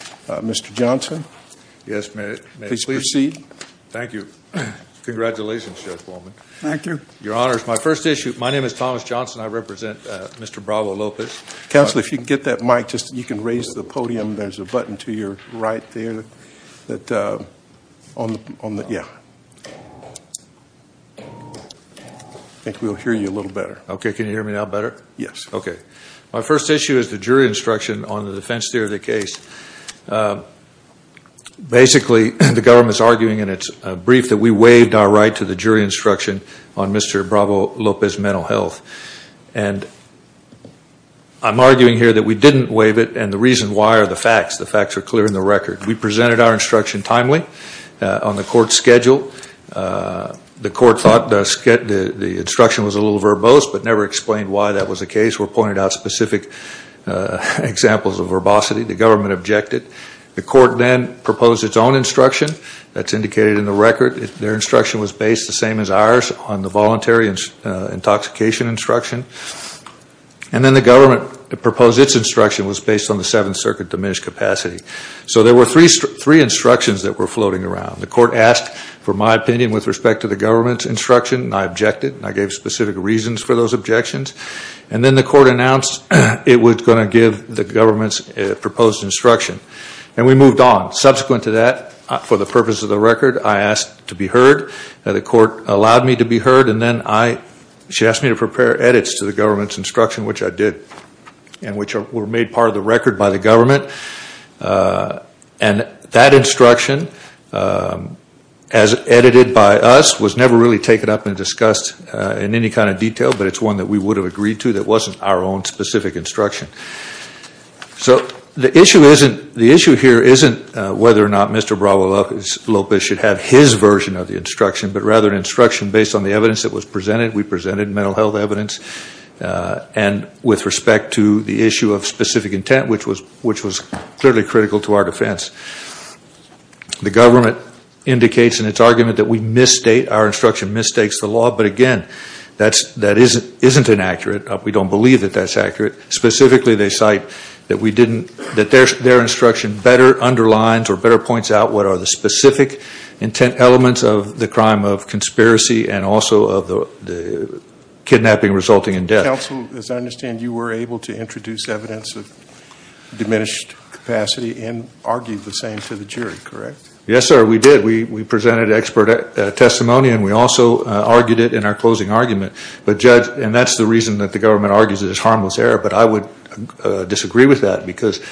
Mr. Johnson, yes, please proceed. Thank you Congratulations. Thank you. Your honors. My first issue. My name is Thomas Johnson. I represent. Mr Bravo Lopez counsel if you can get that mic just you can raise the podium. There's a button to your right there that on the yeah I think we'll hear you a little better. Okay. Can you hear me now better? Yes Okay, my first issue is the jury instruction on the defense theory of the case Basically the government's arguing and it's brief that we waived our right to the jury instruction on mr. Bravo Lopez mental health and I'm arguing here that we didn't waive it and the reason why are the facts the facts are clear in the record We presented our instruction timely on the court schedule The court thought does get the the instruction was a little verbose but never explained why that was a case were pointed out specific Examples of verbosity the government objected the court then proposed its own instruction That's indicated in the record if their instruction was based the same as ours on the voluntary intoxication instruction and Then the government proposed its instruction was based on the Seventh Circuit diminished capacity So there were three three instructions that were floating around the court asked for my opinion with respect to the government's instruction I objected and I gave specific reasons for those objections and then the court announced it was going to give the government's Proposed instruction and we moved on subsequent to that for the purpose of the record I asked to be heard the court allowed me to be heard and then I She asked me to prepare edits to the government's instruction, which I did and which were made part of the record by the government And that instruction as Edited by us was never really taken up and discussed in any kind of detail But it's one that we would have agreed to that wasn't our own specific instruction So the issue isn't the issue here isn't whether or not. Mr Bravo Lopez should have his version of the instruction but rather an instruction based on the evidence that was presented We presented mental health evidence And with respect to the issue of specific intent which was which was clearly critical to our defense the government Indicates in its argument that we misstate our instruction mistakes the law But again, that's that isn't isn't inaccurate up. We don't believe that that's accurate specifically They cite that we didn't that there's their instruction better underlines or better points out what are the specific intent elements of the crime of conspiracy and also of the Kidnapping resulting in death counsel as I understand you were able to introduce evidence of Diminished capacity and argued the same to the jury, correct? Yes, sir. We did we we presented expert Testimony, and we also argued it in our closing argument, but judge and that's the reason that the government argues. It is harmless error but I would disagree with that because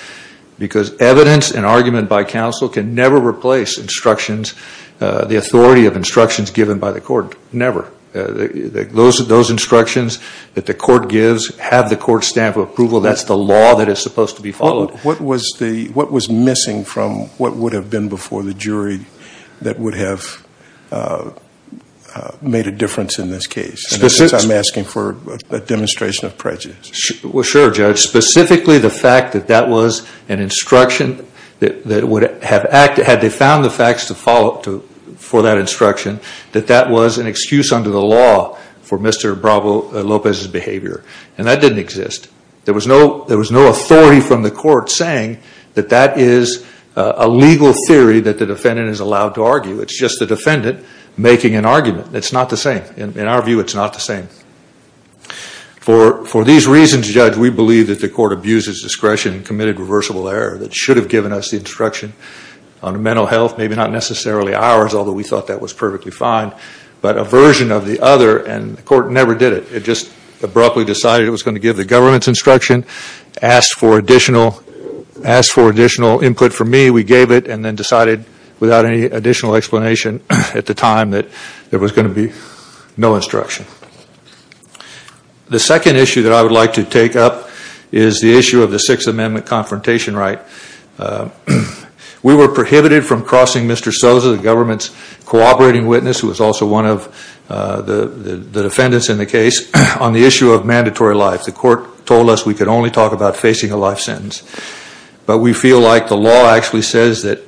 Because evidence and argument by counsel can never replace instructions The authority of instructions given by the court never Those are those instructions that the court gives have the court stamp of approval That's the law that is supposed to be followed. What was the what was missing from what would have been before the jury? that would have Made a difference in this case. This is I'm asking for a demonstration of prejudice Well, sure judge specifically the fact that that was an instruction That would have acted had they found the facts to follow up to for that instruction that that was an excuse under the law For mr. Bravo Lopez's behavior and that didn't exist There was no there was no authority from the court saying that that is a legal theory that the defendant is allowed to argue It's just the defendant making an argument. It's not the same in our view. It's not the same For for these reasons judge We believe that the court abuses discretion and committed reversible error that should have given us the instruction on mental health Maybe not necessarily ours, although we thought that was perfectly fine But a version of the other and the court never did it it just abruptly decided it was going to give the government's instruction asked for additional Asked for additional input for me We gave it and then decided without any additional explanation at the time that there was going to be no instruction The second issue that I would like to take up is the issue of the Sixth Amendment confrontation, right? We were prohibited from crossing. Mr. Sosa the government's cooperating witness who was also one of The the defendants in the case on the issue of mandatory life. The court told us we could only talk about facing a life sentence but we feel like the law actually says that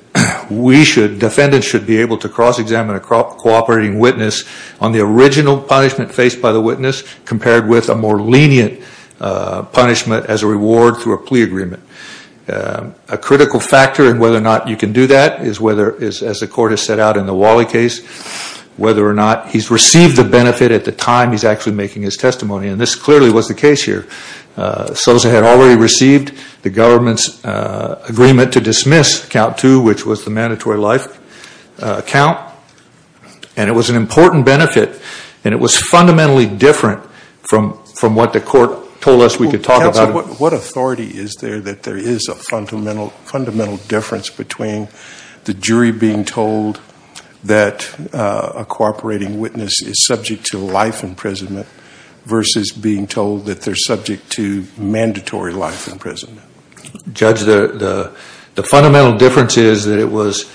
We should defendants should be able to cross-examine a crop cooperating witness on the original punishment faced by the witness compared with a more lenient punishment as a reward through a plea agreement a Critical factor and whether or not you can do that is whether is as the court has set out in the Wally case Whether or not he's received the benefit at the time. He's actually making his testimony and this clearly was the case here Sosa had already received the government's Dismissed count to which was the mandatory life count and It was an important benefit and it was fundamentally different from from what the court told us we could talk about What authority is there that there is a fundamental fundamental difference between the jury being told? that a Cooperating witness is subject to life imprisonment Versus being told that they're subject to mandatory life in prison Judge the the fundamental difference is that it was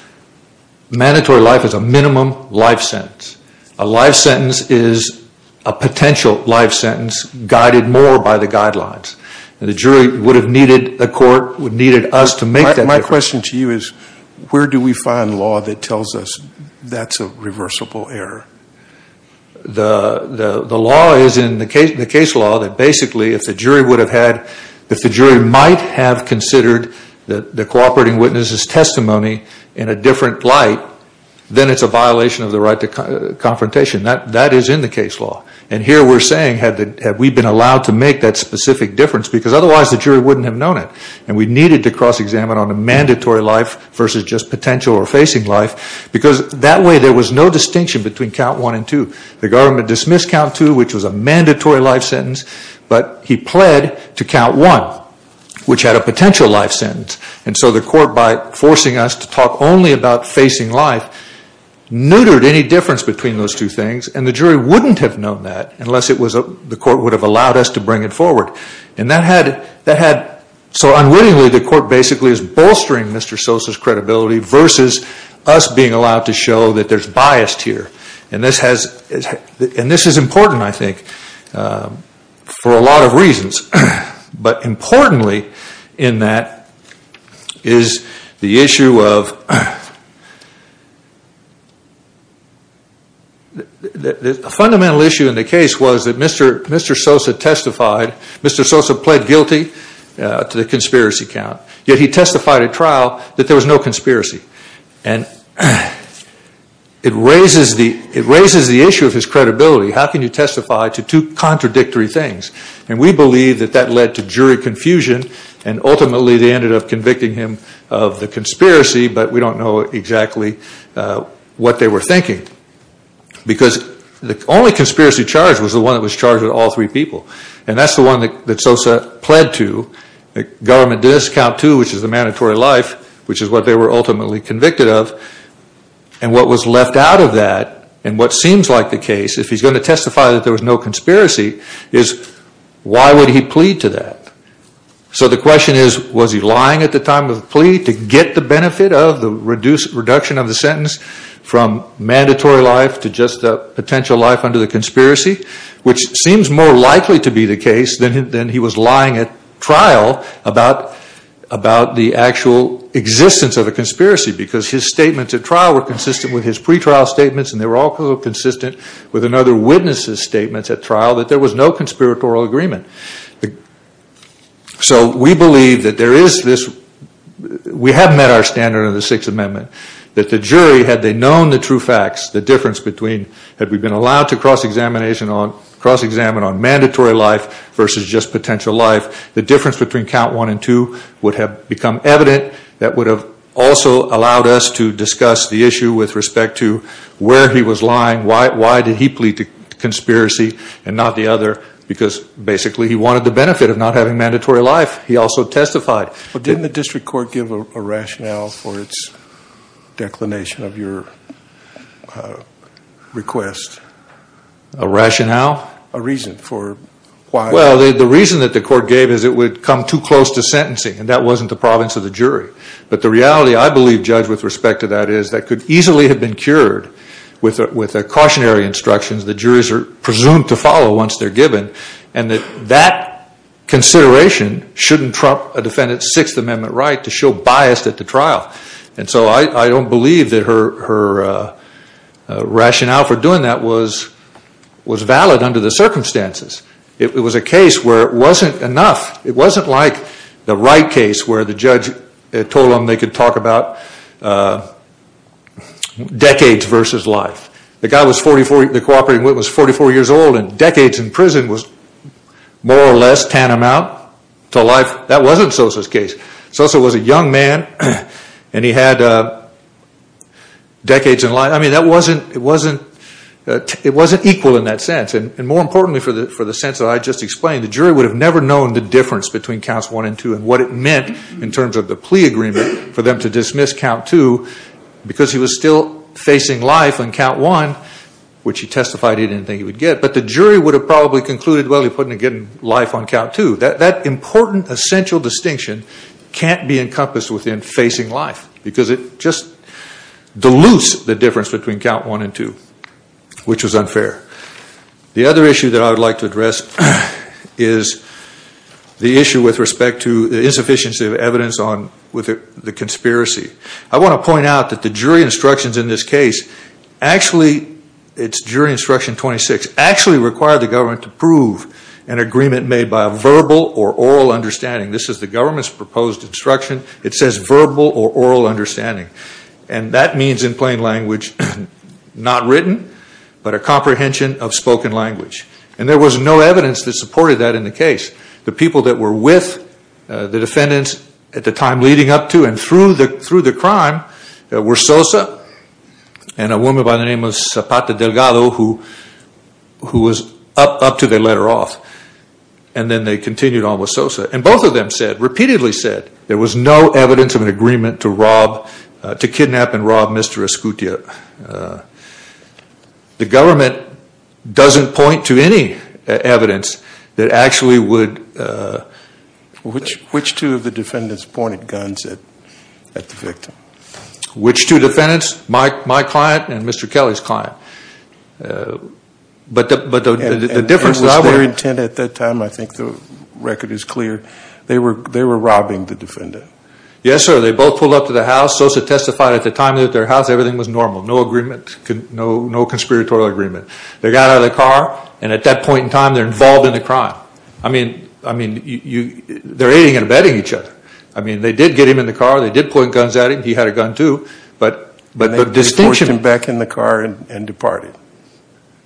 Mandatory life is a minimum life sentence a life sentence is a potential life sentence Guided more by the guidelines and the jury would have needed the court would needed us to make that my question to you is Where do we find law that tells us that's a reversible error? The the law is in the case in the case law that basically if the jury would have had if the jury might have Considered that the cooperating witnesses testimony in a different light Then it's a violation of the right to confrontation that that is in the case law and here We're saying had that have we been allowed to make that specific difference because otherwise the jury wouldn't have known it and we needed to cross Examine on a mandatory life versus just potential or facing life Because that way there was no distinction between count one and two the government dismissed count to which was a mandatory life sentence But he pled to count one Which had a potential life sentence and so the court by forcing us to talk only about facing life neutered any difference between those two things and the jury wouldn't have known that unless it was a The court would have allowed us to bring it forward and that had that had so unwittingly the court basically is bolstering Mr.. Sosa's credibility versus us being allowed to show that there's biased here, and this has And this is important. I think for a lot of reasons, but importantly in that is the issue of a Fundamental issue in the case was that mr. Mr. Sosa testified mr. Sosa pled guilty to the conspiracy count yet. He testified at trial that there was no conspiracy and It raises the it raises the issue of his credibility how can you testify to two contradictory things and we believe that that led to jury confusion and Ultimately they ended up convicting him of the conspiracy, but we don't know exactly What they were thinking Because the only conspiracy charge was the one that was charged with all three people and that's the one that Sosa pled to government discount to which is the mandatory life, which is what they were ultimately convicted of and What was left out of that and what seems like the case if he's going to testify that there was no conspiracy is Why would he plead to that? So the question is was he lying at the time of the plea to get the benefit of the reduced reduction of the sentence from Mandatory life to just a potential life under the conspiracy Which seems more likely to be the case than he was lying at trial about about the actual existence of a conspiracy because his statements at trial were consistent with his pretrial statements and they were all Consistent with another witnesses statements at trial that there was no conspiratorial agreement So we believe that there is this We have met our standard of the Sixth Amendment That the jury had they known the true facts the difference between had we been allowed to cross-examination on cross-examine on mandatory life versus just potential life the difference between count one and two would have become evident that would have Also allowed us to discuss the issue with respect to where he was lying Why did he plead to conspiracy and not the other because basically he wanted the benefit of not having mandatory life He also testified but didn't the district court give a rationale for its declination of your Request a rationale a reason for Why well the reason that the court gave is it would come too close to sentencing and that wasn't the province of the jury But the reality I believe judge with respect to that is that could easily have been cured With with a cautionary instructions the jurors are presumed to follow once they're given and that that Consideration shouldn't trump a defendant's Sixth Amendment right to show biased at the trial. And so I don't believe that her her Rationale for doing that was Was valid under the circumstances. It was a case where it wasn't enough It wasn't like the right case where the judge told them they could talk about Decades versus life the guy was 44 the cooperating with was 44 years old and decades in prison was More or less tantamount to life. That wasn't Sosa's case. Sosa was a young man and he had Decades in life, I mean that wasn't it wasn't It wasn't equal in that sense and more importantly for the for the sense that I just explained the jury would have never known the Difference between counts one and two and what it meant in terms of the plea agreement for them to dismiss count two Because he was still facing life on count one Which he testified he didn't think he would get but the jury would have probably concluded Well, he put in again life on count two that that important essential distinction can't be encompassed within facing life because it just Deludes the difference between count one and two Which was unfair? the other issue that I would like to address is The issue with respect to the insufficiency of evidence on with the conspiracy I want to point out that the jury instructions in this case Actually, it's jury instruction 26 actually required the government to prove an agreement made by a verbal or oral understanding This is the government's proposed instruction. It says verbal or oral understanding and that means in plain language Not written but a comprehension of spoken language and there was no evidence that supported that in the case the people that were with The defendants at the time leading up to and through the through the crime that were Sosa and a woman by the name of Zapata Delgado who who was up up to their letter off and Then they continued on with Sosa and both of them said repeatedly said there was no evidence of an agreement to rob To kidnap and rob mr. Escutia The government doesn't point to any evidence that actually would Which which two of the defendants pointed guns at at the victim which two defendants Mike my client and mr. Kelly's client But but the difference that I were intended at that time I think the record is clear They were they were robbing the defendant Yes, sir. They both pulled up to the house Sosa testified at the time that their house everything was normal No agreement could no no conspiratorial agreement. They got out of the car and at that point in time, they're involved in the crime I mean, I mean you they're aiding and abetting each other. I mean they did get him in the car They did point guns at him. He had a gun too, but but the distinction back in the car and departed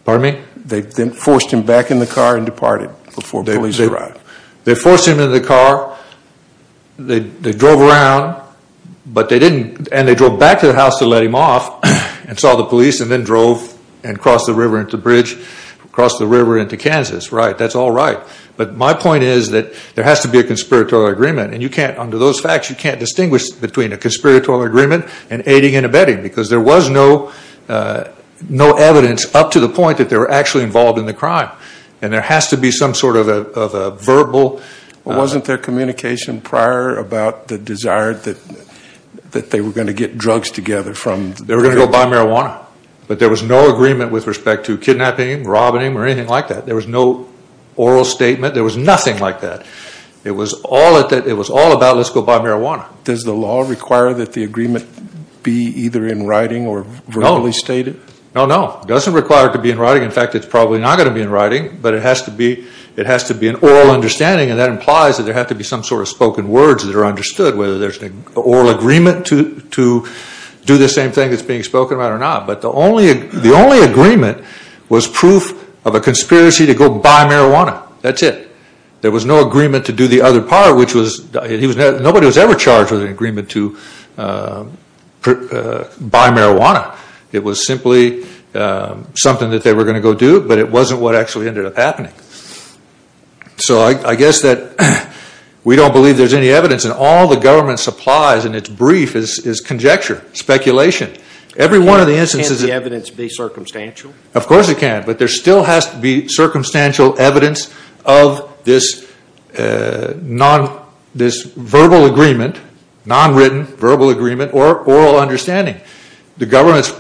Pardon me. They then forced him back in the car and departed before they leave They forced him into the car They drove around But they didn't and they drove back to the house to let him off And saw the police and then drove and crossed the river into bridge across the river into Kansas, right? That's all right But my point is that there has to be a conspiratorial agreement and you can't under those facts you can't distinguish between a conspiratorial agreement and aiding and abetting because there was no No evidence up to the point that they were actually involved in the crime and there has to be some sort of a Verbal wasn't their communication prior about the desired that That they were going to get drugs together from they were gonna go buy marijuana But there was no agreement with respect to kidnapping robbing or anything like that. There was no Oral statement there was nothing like that. It was all that it was all about. Let's go buy marijuana Does the law require that the agreement be either in writing or verbally stated? No, no doesn't require to be in writing In fact, it's probably not going to be in writing But it has to be it has to be an oral understanding and that implies that there have to be some sort of spoken words That are understood whether there's an oral agreement to to do the same thing That's being spoken about or not But the only the only agreement was proof of a conspiracy to go buy marijuana. That's it There was no agreement to do the other part which was he was nobody was ever charged with an agreement to Buy marijuana it was simply Something that they were going to go do but it wasn't what actually ended up happening so I guess that We don't believe there's any evidence and all the government supplies and it's brief is conjecture speculation Every one of the instances the evidence be circumstantial. Of course it can but there still has to be circumstantial evidence of this non this verbal agreement Non-written verbal agreement or oral understanding the government's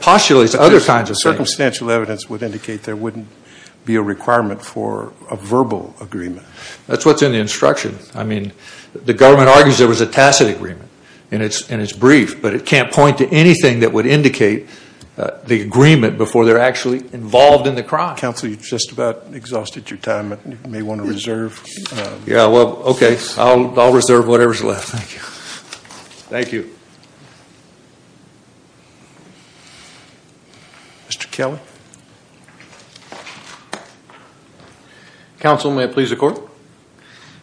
postulates other kinds of circumstantial evidence would indicate there wouldn't Be a requirement for a verbal agreement. That's what's in the instruction I mean the government argues there was a tacit agreement and it's and it's brief But it can't point to anything that would indicate The agreement before they're actually involved in the crime council you just about exhausted your time and you may want to reserve Yeah, well, okay. I'll reserve whatever's left. Thank you Thank you Mr. Kelly Counsel may it please the court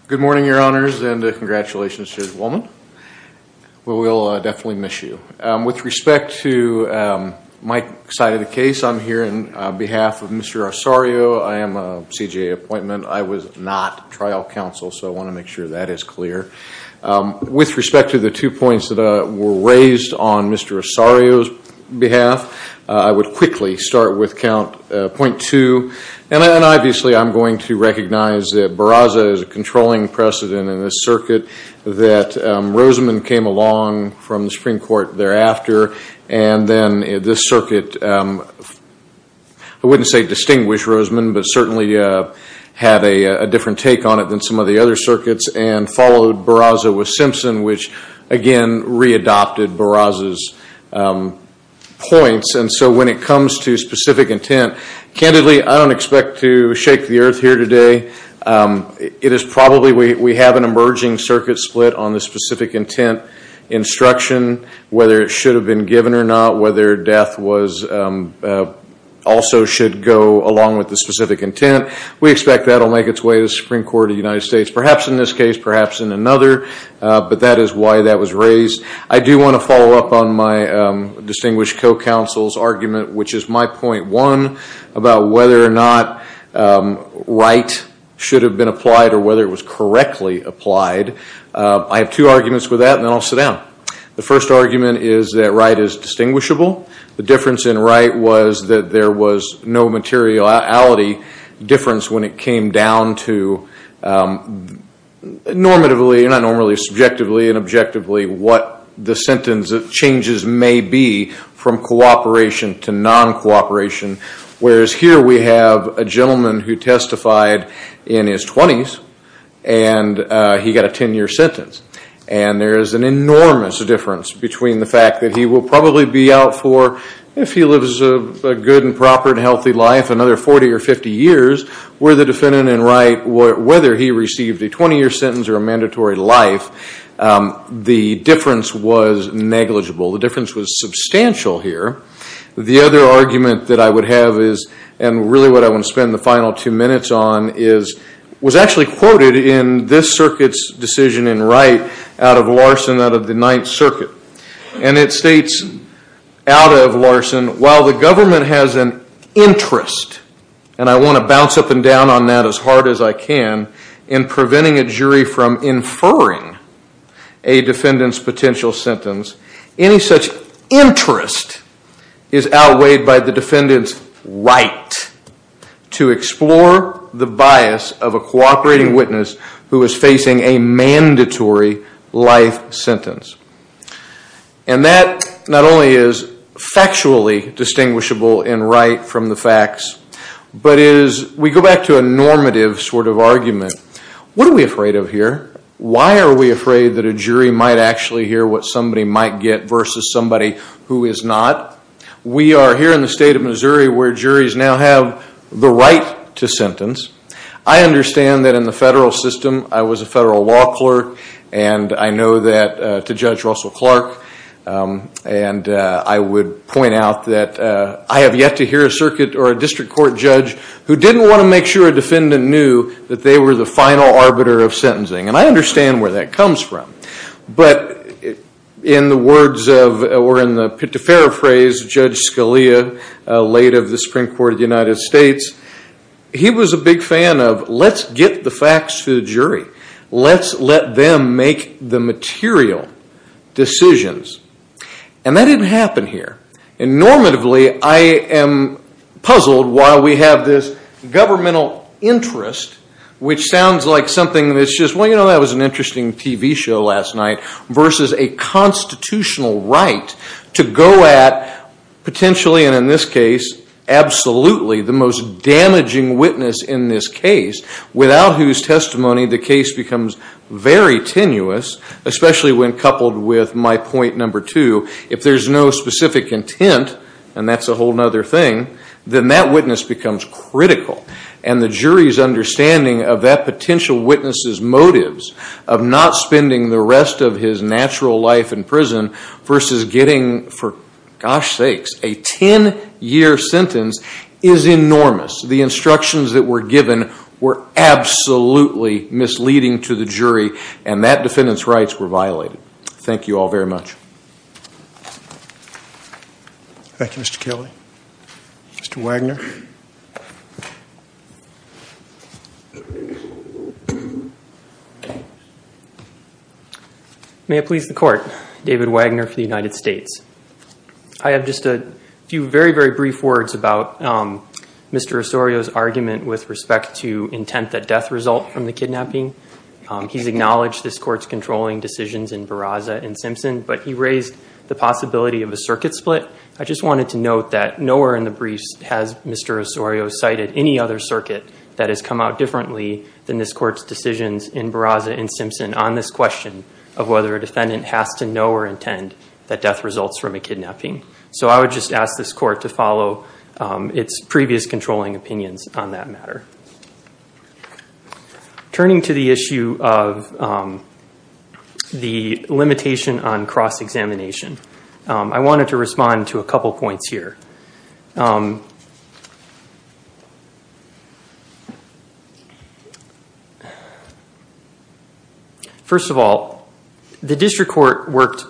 Good morning, Your Honors and congratulations to this woman Well, we'll definitely miss you with respect to My side of the case. I'm here in behalf of mr. Osorio. I am a CGA appointment I was not trial counsel. So I want to make sure that is clear With respect to the two points that were raised on mr. Osorio's behalf I would quickly start with count point two and then obviously I'm going to recognize that Barraza is a controlling precedent in this circuit that Rosamond came along from the Supreme Court thereafter and then this circuit I wouldn't say distinguish Rosamond, but certainly Had a different take on it than some of the other circuits and followed Barraza with Simpson which again readopted Barraza's Points and so when it comes to specific intent candidly, I don't expect to shake the earth here today It is probably we have an emerging circuit split on the specific intent instruction whether it should have been given or not whether death was Also should go along with the specific intent we expect that'll make its way to the Supreme Court of the United States Perhaps in this case perhaps in another But that is why that was raised. I do want to follow up on my Distinguished co-counsel's argument, which is my point one about whether or not Right should have been applied or whether it was correctly applied I have two arguments with that and then I'll sit down The first argument is that right is distinguishable the difference in right was that there was no materiality difference when it came down to Normatively and I normally subjectively and objectively what the sentence of changes may be from cooperation to Non-cooperation whereas here we have a gentleman who testified in his 20s and he got a 10-year sentence and there is an enormous difference between the fact that he will probably be out for if he lives a Good and proper and healthy life another 40 or 50 years Where the defendant and right what whether he received a 20-year sentence or a mandatory life? The difference was negligible. The difference was substantial here the other argument that I would have is and really what I want to spend the final two minutes on is Was actually quoted in this circuit's decision in right out of Larson out of the Ninth Circuit and it states out of Larson while the government has an interest and I want to bounce up and down on that as hard as I can in preventing a jury from inferring a defendant's potential sentence any such interest Is outweighed by the defendant's right? to explore the bias of a cooperating witness who is facing a mandatory life sentence and that not only is Factually distinguishable in right from the facts But is we go back to a normative sort of argument. What are we afraid of here? Why are we afraid that a jury might actually hear what somebody might get versus somebody who is not? We are here in the state of Missouri where juries now have the right to sentence I understand that in the federal system. I was a federal law clerk and I know that to judge Russell Clark And I would point out that I have yet to hear a circuit or a district court judge Who didn't want to make sure a defendant knew that they were the final arbiter of sentencing and I understand where that comes from But In the words of or in the pit to paraphrase judge Scalia late of the Supreme Court of the United States He was a big fan of let's get the facts to the jury. Let's let them make the material decisions and that didn't happen here and normatively, I am Puzzled why we have this Governmental interest which sounds like something that's just well, you know, that was an interesting TV show last night versus a constitutional right to go at potentially and in this case Absolutely, the most damaging witness in this case without whose testimony the case becomes very tenuous Especially when coupled with my point number two if there's no specific intent and that's a whole nother thing Then that witness becomes critical and the jury's understanding of that potential witnesses motives of not spending the rest of his natural life in prison versus getting for gosh sakes a 10-year sentence is enormous the instructions that were given were Absolutely misleading to the jury and that defendants rights were violated. Thank you all very much Thank You, mr. Kelly, mr. Wagner May it please the court David Wagner for the United States. I Have just a few very very brief words about Mr. Osorio's argument with respect to intent that death result from the kidnapping He's acknowledged this courts controlling decisions in Barraza and Simpson, but he raised the possibility of a circuit split I just wanted to note that nowhere in the briefs has mr Osorio cited any other circuit that has come out differently than this courts decisions in Barraza and Simpson on this question of whether a Defendant has to know or intend that death results from a kidnapping. So I would just ask this court to follow Its previous controlling opinions on that matter Turning to the issue of The limitation on cross-examination, I wanted to respond to a couple points here First of all, the district court worked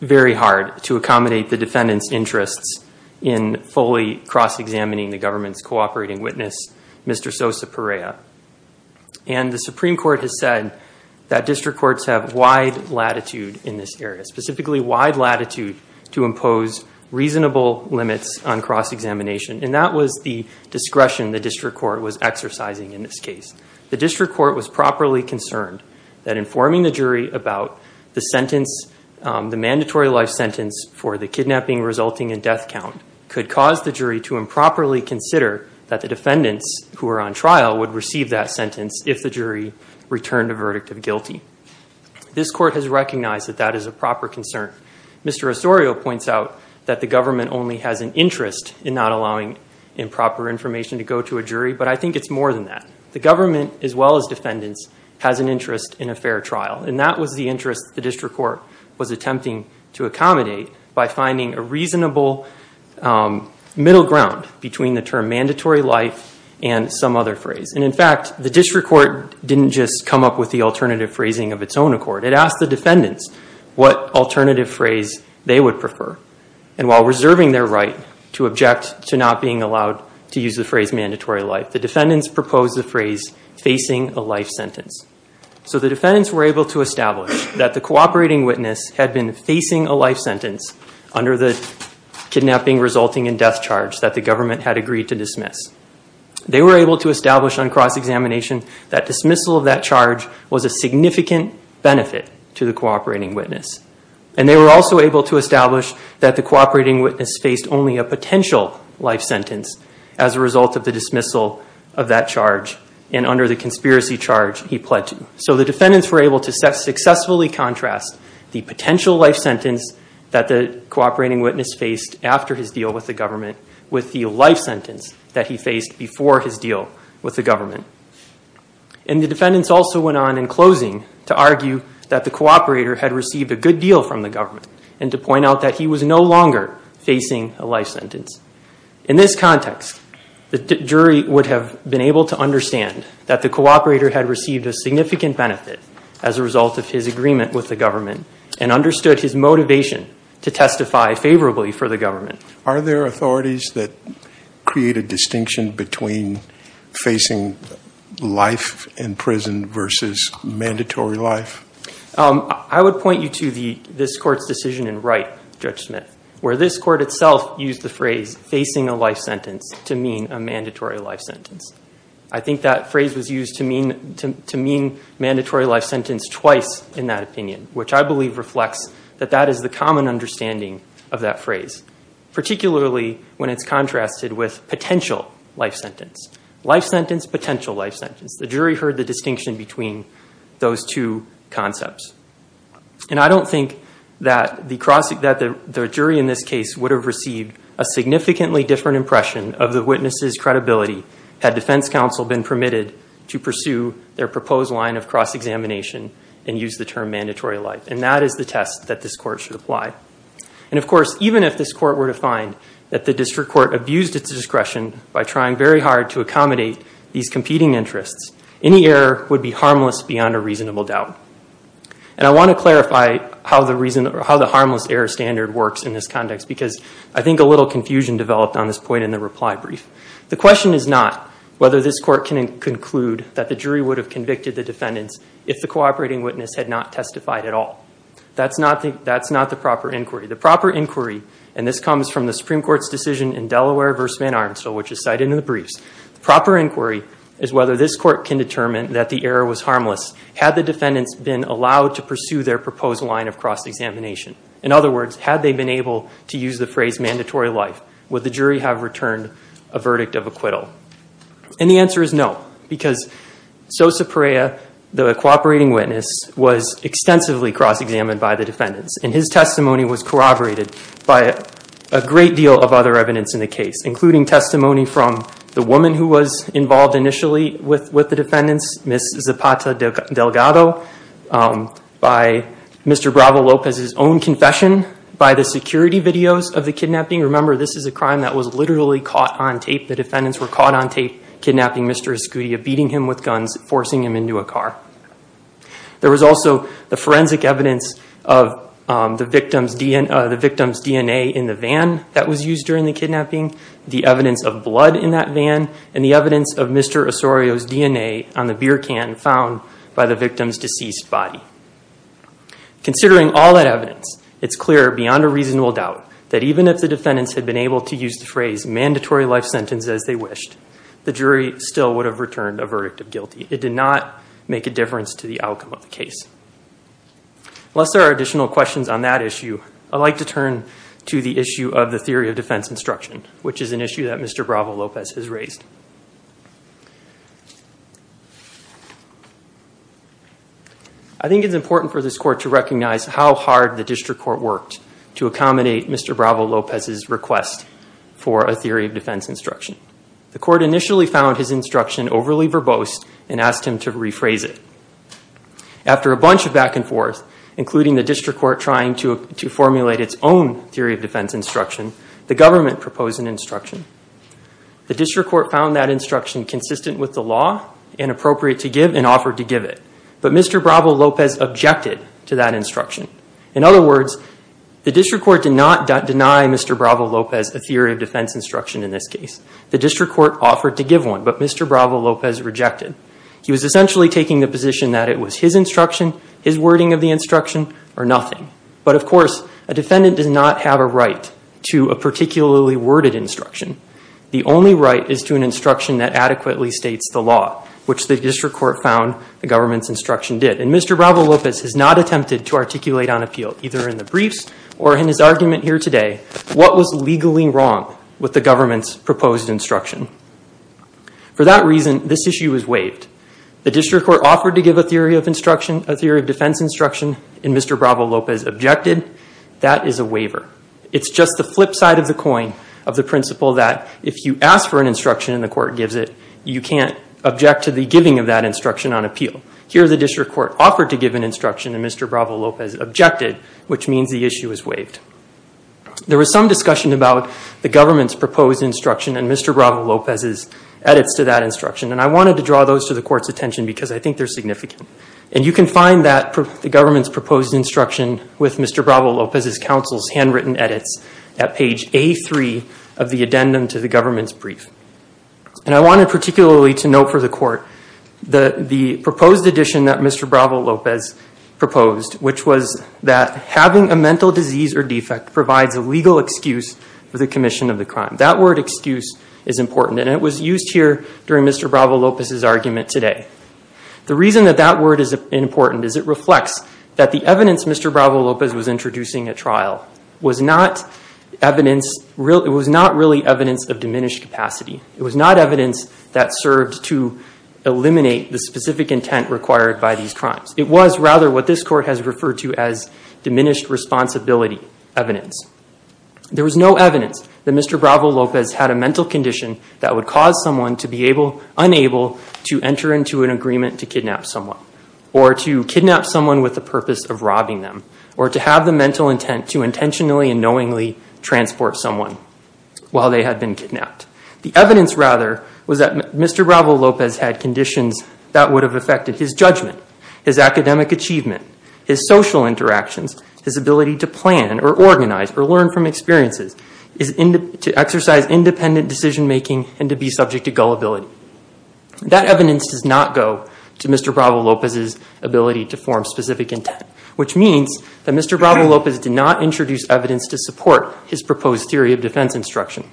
very hard to accommodate the defendants interests in Fully cross-examining the government's cooperating witness. Mr. Sosa Perea and The Supreme Court has said that district courts have wide latitude in this area specifically wide latitude to impose reasonable limits on cross-examination And that was the discretion the district court was exercising in this case The district court was properly concerned that informing the jury about the sentence The mandatory life sentence for the kidnapping resulting in death count could cause the jury to improperly consider that the defendants Who are on trial would receive that sentence if the jury returned a verdict of guilty This court has recognized that that is a proper concern. Mr. Osorio points out that the government only has an interest in not allowing Improper information to go to a jury, but I think it's more than that The government as well as defendants has an interest in a fair trial and that was the interest the district court Attempting to accommodate by finding a reasonable Middle ground between the term mandatory life and some other phrase And in fact, the district court didn't just come up with the alternative phrasing of its own accord It asked the defendants what alternative phrase they would prefer and while reserving their right to object to not being allowed To use the phrase mandatory life the defendants proposed the phrase facing a life sentence So the defendants were able to establish that the cooperating witness had been facing a life sentence under the Kidnapping resulting in death charge that the government had agreed to dismiss They were able to establish on cross-examination that dismissal of that charge was a significant benefit to the cooperating witness and they were also able to establish that the cooperating witness faced only a potential life sentence as a Dismissal of that charge and under the conspiracy charge he pledged so the defendants were able to set successfully contrast the potential life sentence that the cooperating witness faced after his deal with the government with the life sentence that he faced before his deal with the government and the defendants also went on in closing to argue that the Cooperator had received a good deal from the government and to point out that he was no longer Facing a life sentence in this context the jury would have been able to understand that the cooperator had received a significant benefit as a result of his agreement with the Government and understood his motivation to testify favorably for the government. Are there authorities that create a distinction between facing life in prison versus mandatory life I would point you to the this court's decision in Wright Judge Smith where this court itself used the phrase Facing a life sentence to mean a mandatory life sentence I think that phrase was used to mean to mean mandatory life sentence twice in that opinion Which I believe reflects that that is the common understanding of that phrase Particularly when it's contrasted with potential life sentence life sentence potential life sentence the jury heard the distinction between Those two concepts and I don't think that the cross that the jury in this case would have received a Significantly different impression of the witnesses credibility had defense counsel been permitted to pursue their proposed line of cross Examination and use the term mandatory life and that is the test that this court should apply And of course, even if this court were to find that the district court abused its discretion by trying very hard to accommodate These competing interests any error would be harmless beyond a reasonable doubt and I want to clarify how the reason or how the harmless error standard works in this context because I think a little Confusion developed on this point in the reply brief The question is not whether this court can conclude that the jury would have convicted the defendants if the cooperating witness had not testified at All that's not the that's not the proper inquiry the proper inquiry and this comes from the Supreme Court's decision in Delaware vs Van Armstead which is cited in the briefs proper inquiry is whether this court can determine that the error was harmless had the defendants been allowed to pursue their proposed line of Cross-examination in other words had they been able to use the phrase mandatory life. Would the jury have returned a verdict of acquittal? and the answer is no because so Supreya the cooperating witness was extensively cross-examined by the defendants and his testimony was corroborated by a Testimony from the woman who was involved initially with with the defendants miss Zapata Delgado By mr. Bravo Lopez his own confession by the security videos of the kidnapping Remember, this is a crime that was literally caught on tape. The defendants were caught on tape kidnapping. Mr Escudia beating him with guns forcing him into a car there was also the forensic evidence of The victim's DNA in the van that was used during the kidnapping the evidence of blood in that van and the evidence of mr Osorio's DNA on the beer can found by the victim's deceased body Considering all that evidence It's clear beyond a reasonable doubt that even if the defendants had been able to use the phrase Mandatory life sentence as they wished the jury still would have returned a verdict of guilty It did not make a difference to the outcome of the case Unless there are additional questions on that issue I'd like to turn to the issue of the theory of defense instruction, which is an issue that mr. Bravo Lopez has raised. I Think it's important for this court to recognize how hard the district court worked to accommodate. Mr Bravo Lopez's request for a theory of defense instruction The court initially found his instruction overly verbose and asked him to rephrase it After a bunch of back-and-forth Including the district court trying to formulate its own theory of defense instruction the government proposed an instruction The district court found that instruction consistent with the law and appropriate to give and offered to give it but mr Bravo Lopez objected to that instruction in other words the district court did not deny mr Bravo Lopez a theory of defense instruction in this case the district court offered to give one but mr. Bravo Lopez rejected He was essentially taking the position that it was his instruction his wording of the instruction or nothing But of course a defendant does not have a right to a particularly worded instruction The only right is to an instruction that adequately states the law which the district court found the government's instruction did and mr Bravo Lopez has not attempted to articulate on appeal either in the briefs or in his argument here today What was legally wrong with the government's proposed instruction? For that reason this issue is waived the district court offered to give a theory of instruction a theory of defense instruction in mr Bravo Lopez objected that is a waiver It's just the flip side of the coin of the principle that if you ask for an instruction in the court gives it you can't Object to the giving of that instruction on appeal here the district court offered to give an instruction and mr Bravo Lopez objected which means the issue is waived There was some discussion about the government's proposed instruction and mr Bravo Lopez's edits to that instruction and I wanted to draw those to the court's attention because I think they're significant and you can find that The government's proposed instruction with mr Bravo Lopez's counsel's handwritten edits at page a3 of the addendum to the government's brief And I wanted particularly to note for the court the the proposed addition that mr Lopez Proposed which was that having a mental disease or defect provides a legal excuse for the commission of the crime that word excuse is Important and it was used here during mr. Bravo Lopez's argument today The reason that that word is important is it reflects that the evidence? Mr. Bravo Lopez was introducing a trial was not Evidence real it was not really evidence of diminished capacity. It was not evidence that served to It was rather what this court has referred to as diminished responsibility evidence There was no evidence that mr Bravo Lopez had a mental condition that would cause someone to be able unable to enter into an agreement to kidnap someone or to Kidnap someone with the purpose of robbing them or to have the mental intent to intentionally and knowingly Transport someone while they had been kidnapped the evidence rather was that mr Bravo Lopez had conditions that would have affected his judgment his academic achievement his social interactions his ability to plan or Organize or learn from experiences is in to exercise independent decision-making and to be subject to gullibility That evidence does not go to mr. Bravo Lopez's ability to form specific intent Which means that mr. Bravo Lopez did not introduce evidence to support his proposed theory of defense instruction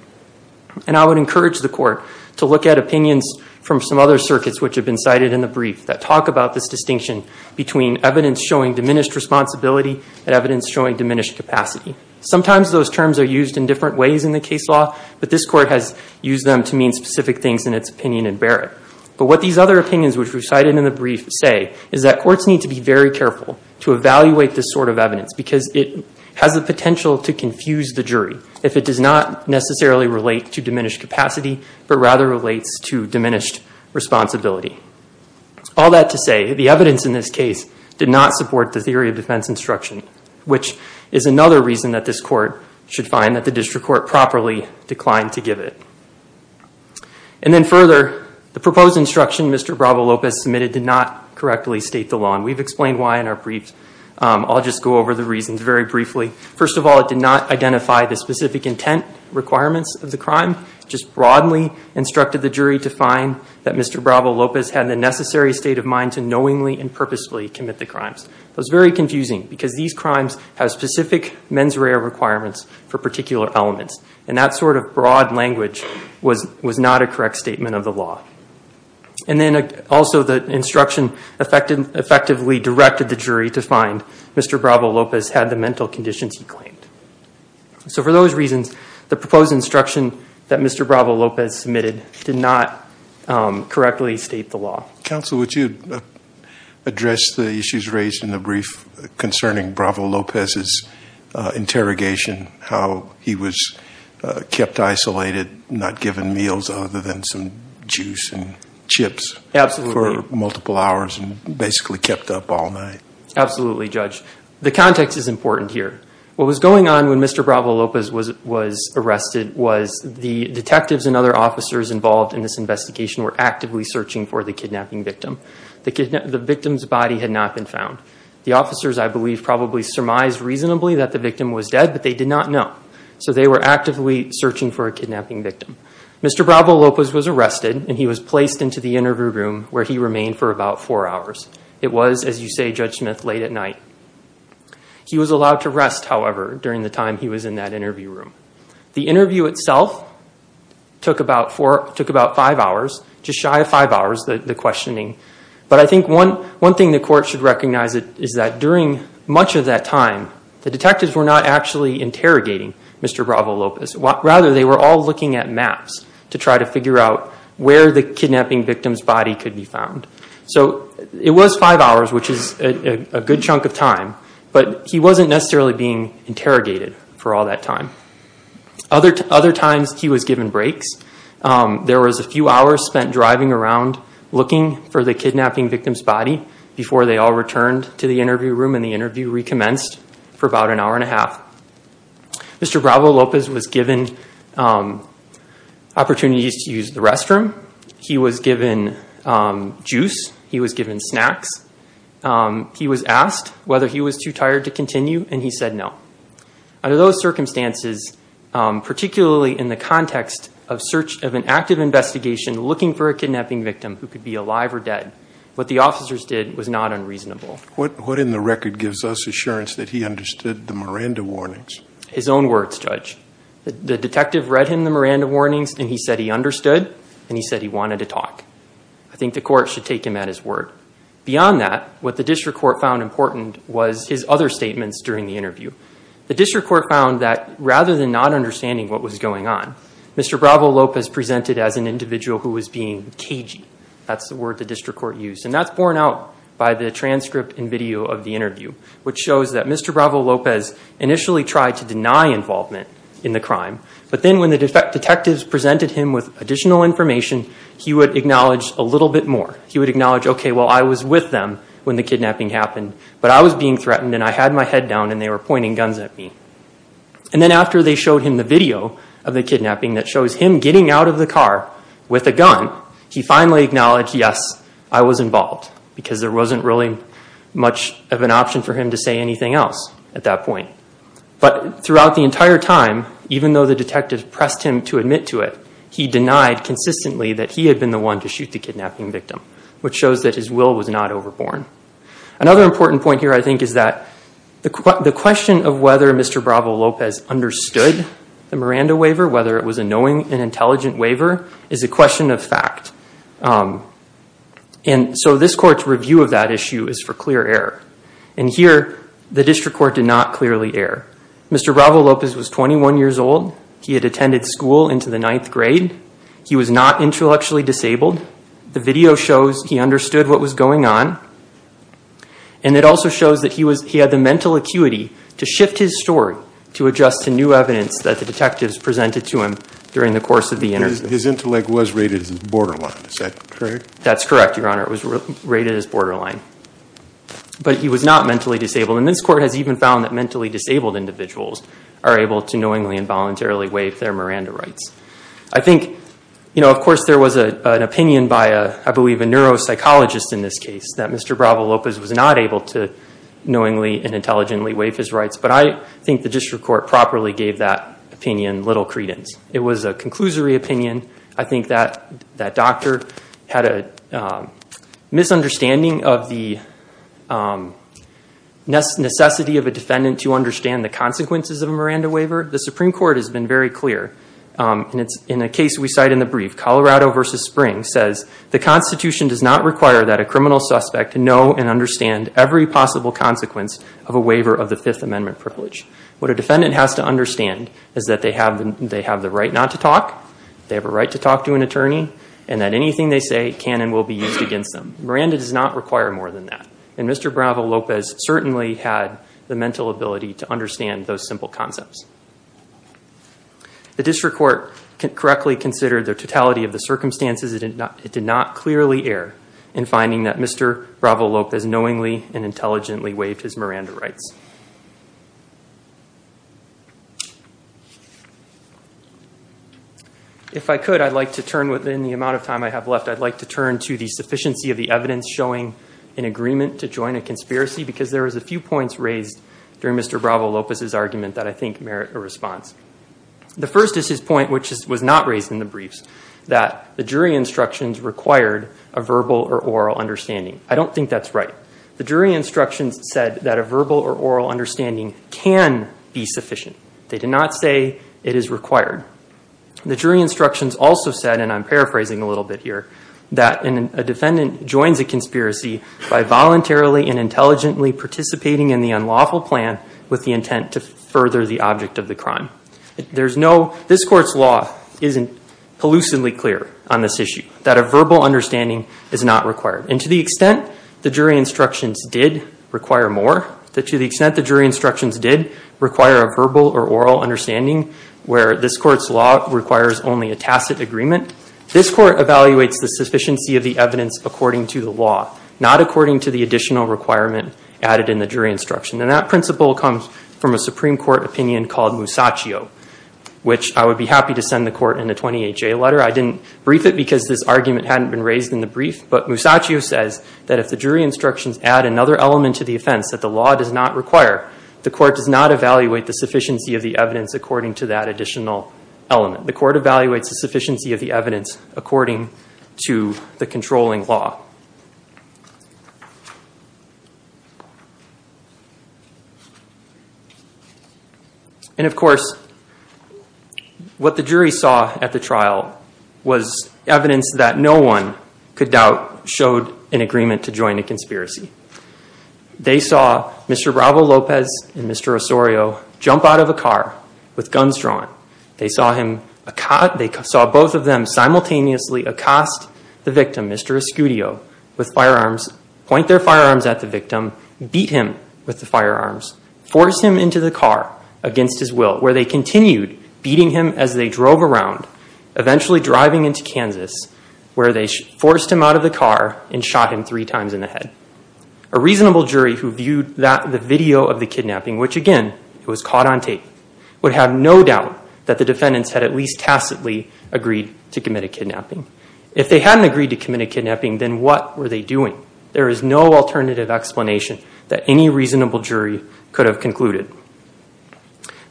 And I would encourage the court to look at opinions from some other circuits Which have been cited in the brief that talk about this distinction between evidence showing diminished responsibility and evidence showing diminished capacity Sometimes those terms are used in different ways in the case law But this court has used them to mean specific things in its opinion and Barrett but what these other opinions which we've cited in the brief say is that courts need to be very careful to Has the potential to confuse the jury if it does not necessarily relate to diminished capacity, but rather relates to diminished responsibility All that to say the evidence in this case did not support the theory of defense instruction Which is another reason that this court should find that the district court properly declined to give it and then further The proposed instruction. Mr. Bravo Lopez submitted did not correctly state the law and we've explained why in our briefs I'll just go over the reasons very briefly. First of all, it did not identify the specific intent requirements of the crime just broadly Instructed the jury to find that mr Bravo Lopez had the necessary state of mind to knowingly and purposefully commit the crimes It was very confusing because these crimes have specific mens rea requirements for particular elements and that sort of broad language Was was not a correct statement of the law And then also the instruction affected effectively directed the jury to find mr. Bravo Lopez had the mental conditions he claimed So for those reasons the proposed instruction that mr. Bravo Lopez submitted did not Correctly state the law counsel would you? address the issues raised in the brief concerning Bravo Lopez's interrogation how he was Chips absolutely for multiple hours and basically kept up all night Absolutely judge. The context is important here. What was going on when? Mr Bravo Lopez was was arrested was the detectives and other officers involved in this investigation Were actively searching for the kidnapping victim the kidnap the victim's body had not been found the officers I believe probably surmised reasonably that the victim was dead, but they did not know so they were actively searching for a kidnapping victim Mr. Bravo Lopez was arrested and he was placed into the interview room where he remained for about four hours It was as you say judge Smith late at night He was allowed to rest. However during the time he was in that interview room the interview itself Took about four took about five hours just shy of five hours the questioning But I think one one thing the court should recognize it is that during much of that time the detectives were not actually interrogating Mr. Bravo Lopez what rather they were all looking at maps to try to figure out where the kidnapping victim's body could be found So it was five hours, which is a good chunk of time, but he wasn't necessarily being interrogated for all that time Other to other times he was given breaks There was a few hours spent driving around Looking for the kidnapping victim's body before they all returned to the interview room and the interview recommenced for about an hour and a half Mr. Bravo Lopez was given Opportunities to use the restroom he was given Juice he was given snacks He was asked whether he was too tired to continue and he said no under those circumstances Particularly in the context of search of an active investigation Looking for a kidnapping victim who could be alive or dead what the officers did was not unreasonable What what in the record gives us assurance that he understood the Miranda warnings his own words judge The detective read him the Miranda warnings and he said he understood and he said he wanted to talk I think the court should take him at his word Beyond that what the district court found important was his other statements during the interview the district court found that rather than not Understanding what was going on? Mr. Bravo Lopez presented as an individual who was being cagey The district court used and that's borne out by the transcript and video of the interview which shows that mr Bravo Lopez initially tried to deny involvement in the crime But then when the detectives presented him with additional information, he would acknowledge a little bit more he would acknowledge Okay Well, I was with them when the kidnapping happened but I was being threatened and I had my head down and they were pointing guns at me and Then after they showed him the video of the kidnapping that shows him getting out of the car with a gun He finally acknowledged. Yes I was involved because there wasn't really much of an option for him to say anything else at that point But throughout the entire time even though the detective pressed him to admit to it He denied consistently that he had been the one to shoot the kidnapping victim, which shows that his will was not overborne Another important point here. I think is that the question of whether mr Bravo Lopez Understood the Miranda waiver whether it was a knowing and intelligent waiver is a question of fact and So this court's review of that issue is for clear error and here the district court did not clearly air. Mr Bravo Lopez was 21 years old. He had attended school into the ninth grade He was not intellectually disabled. The video shows he understood what was going on and It also shows that he was he had the mental acuity to shift his story to adjust to new evidence that the detectives Presented to him during the course of the interview. His intellect was rated as borderline. Is that correct? That's correct. Your honor It was rated as borderline But he was not mentally disabled and this court has even found that mentally disabled individuals are able to knowingly and voluntarily waive their Miranda rights I think you know, of course there was a an opinion by a I believe a Neuropsychologist in this case that mr. Bravo Lopez was not able to Knowingly and intelligently waive his rights, but I think the district court properly gave that opinion little credence It was a conclusory opinion. I think that that doctor had a Misunderstanding of the Necessity of a defendant to understand the consequences of a Miranda waiver the Supreme Court has been very clear And it's in a case we cite in the brief Colorado versus Spring says the Constitution does not require that a criminal suspect to know And understand every possible consequence of a waiver of the Fifth Amendment privilege What a defendant has to understand is that they have them they have the right not to talk They have a right to talk to an attorney and that anything they say can and will be used against them Miranda does not require more than that and mr. Bravo Lopez certainly had the mental ability to understand those simple concepts The district court Correctly considered their totality of the circumstances. It did not it did not clearly err in finding that mr Bravo Lopez knowingly and intelligently waived his Miranda rights If I could I'd like to turn within the amount of time I have left I'd like to turn to the sufficiency of the evidence showing an agreement to join a conspiracy because there was a few points raised During mr. Bravo Lopez's argument that I think merit a response The first is his point which was not raised in the briefs that the jury instructions required a verbal or oral understanding I don't think that's right. The jury instructions said that a verbal or oral understanding can be sufficient They did not say it is required The jury instructions also said and I'm paraphrasing a little bit here that in a defendant joins a conspiracy by voluntarily and intelligently Participating in the unlawful plan with the intent to further the object of the crime. There's no this court's law isn't Hallucinally clear on this issue that a verbal understanding is not required and to the extent the jury instructions did Require more that to the extent the jury instructions did require a verbal or oral understanding Where this court's law requires only a tacit agreement This court evaluates the sufficiency of the evidence according to the law not according to the additional requirement Added in the jury instruction and that principle comes from a Supreme Court opinion called Musacchio Which I would be happy to send the court in the 20HA letter I didn't brief it because this argument hadn't been raised in the brief But Musacchio says that if the jury instructions add another element to the offense that the law does not require The court does not evaluate the sufficiency of the evidence according to that additional element The court evaluates the sufficiency of the evidence according to the controlling law And of course What the jury saw at the trial was evidence that no one could doubt showed an agreement to join a conspiracy They saw mr. Bravo Lopez and mr. Osorio jump out of a car with guns drawn They saw him a cot they saw both of them simultaneously Accost the victim mr. Escudillo with firearms point their firearms at the victim beat him with the firearms Force him into the car against his will where they continued beating him as they drove around eventually driving into Kansas where they forced him out of the car and shot him three times in the head a Reasonable jury who viewed that the video of the kidnapping which again it was caught on tape would have no doubt That the defendants had at least tacitly agreed to commit a kidnapping if they hadn't agreed to commit a kidnapping Then what were they doing? There is no alternative explanation that any reasonable jury could have concluded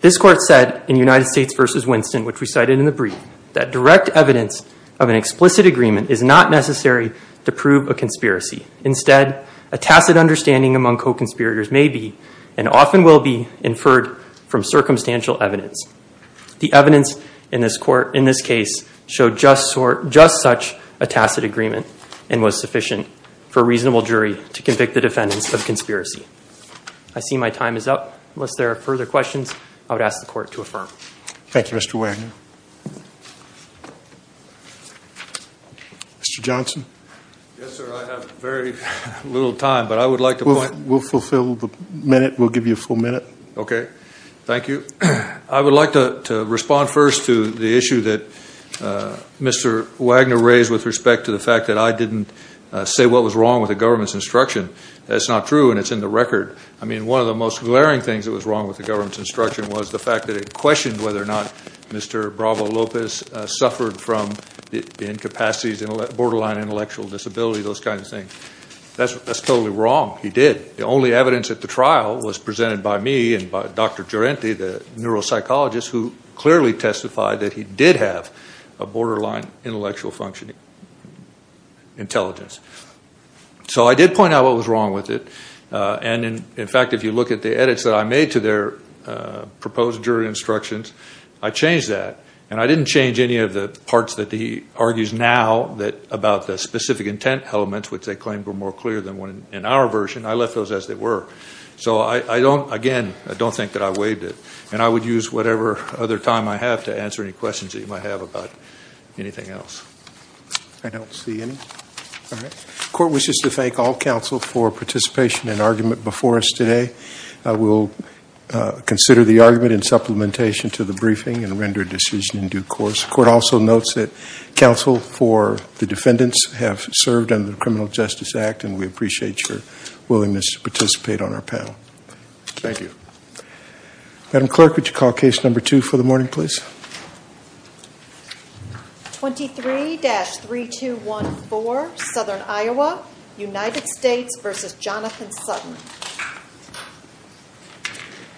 This court said in United States versus Winston Which we cited in the brief that direct evidence of an explicit agreement is not necessary to prove a conspiracy Instead a tacit understanding among co-conspirators may be and often will be inferred from circumstantial evidence the evidence in this court in this case showed just sort just such a tacit agreement and was sufficient for Reasonable jury to convict the defendants of conspiracy. I See, my time is up unless there are further questions. I would ask the court to affirm Thank You. Mr. Wagner Mr. Johnson Little time, but I would like to point we'll fulfill the minute. We'll give you a full minute. Okay. Thank you I would like to respond first to the issue that Mr. Wagner raised with respect to the fact that I didn't say what was wrong with the government's instruction That's not true. And it's in the record I mean one of the most glaring things that was wrong with the government's instruction was the fact that it questioned whether or not Mr. Bravo Lopez suffered from the incapacity's in a borderline intellectual disability those kind of things That's that's totally wrong. He did the only evidence at the trial was presented by me and by dr Entity the neuropsychologist who clearly testified that he did have a borderline intellectual functioning Intelligence So I did point out what was wrong with it And in fact, if you look at the edits that I made to their Proposed jury instructions I changed that and I didn't change any of the parts that the argues now that about the specific intent elements Which they claimed were more clear than one in our version. I left those as they were So I I don't again I don't think that I waived it and I would use whatever other time I have to answer any questions that you might have about anything else I Don't see any Court wishes to thank all counsel for participation in argument before us today. I will consider the argument in supplementation to the briefing and render decision in due course court also notes that Counsel for the defendants have served under the Criminal Justice Act and we appreciate your willingness to participate on our panel Thank you Madam clerk, would you call case number two for the morning, please? 23-3 to 1 for southern, Iowa United States versus Jonathan Sutton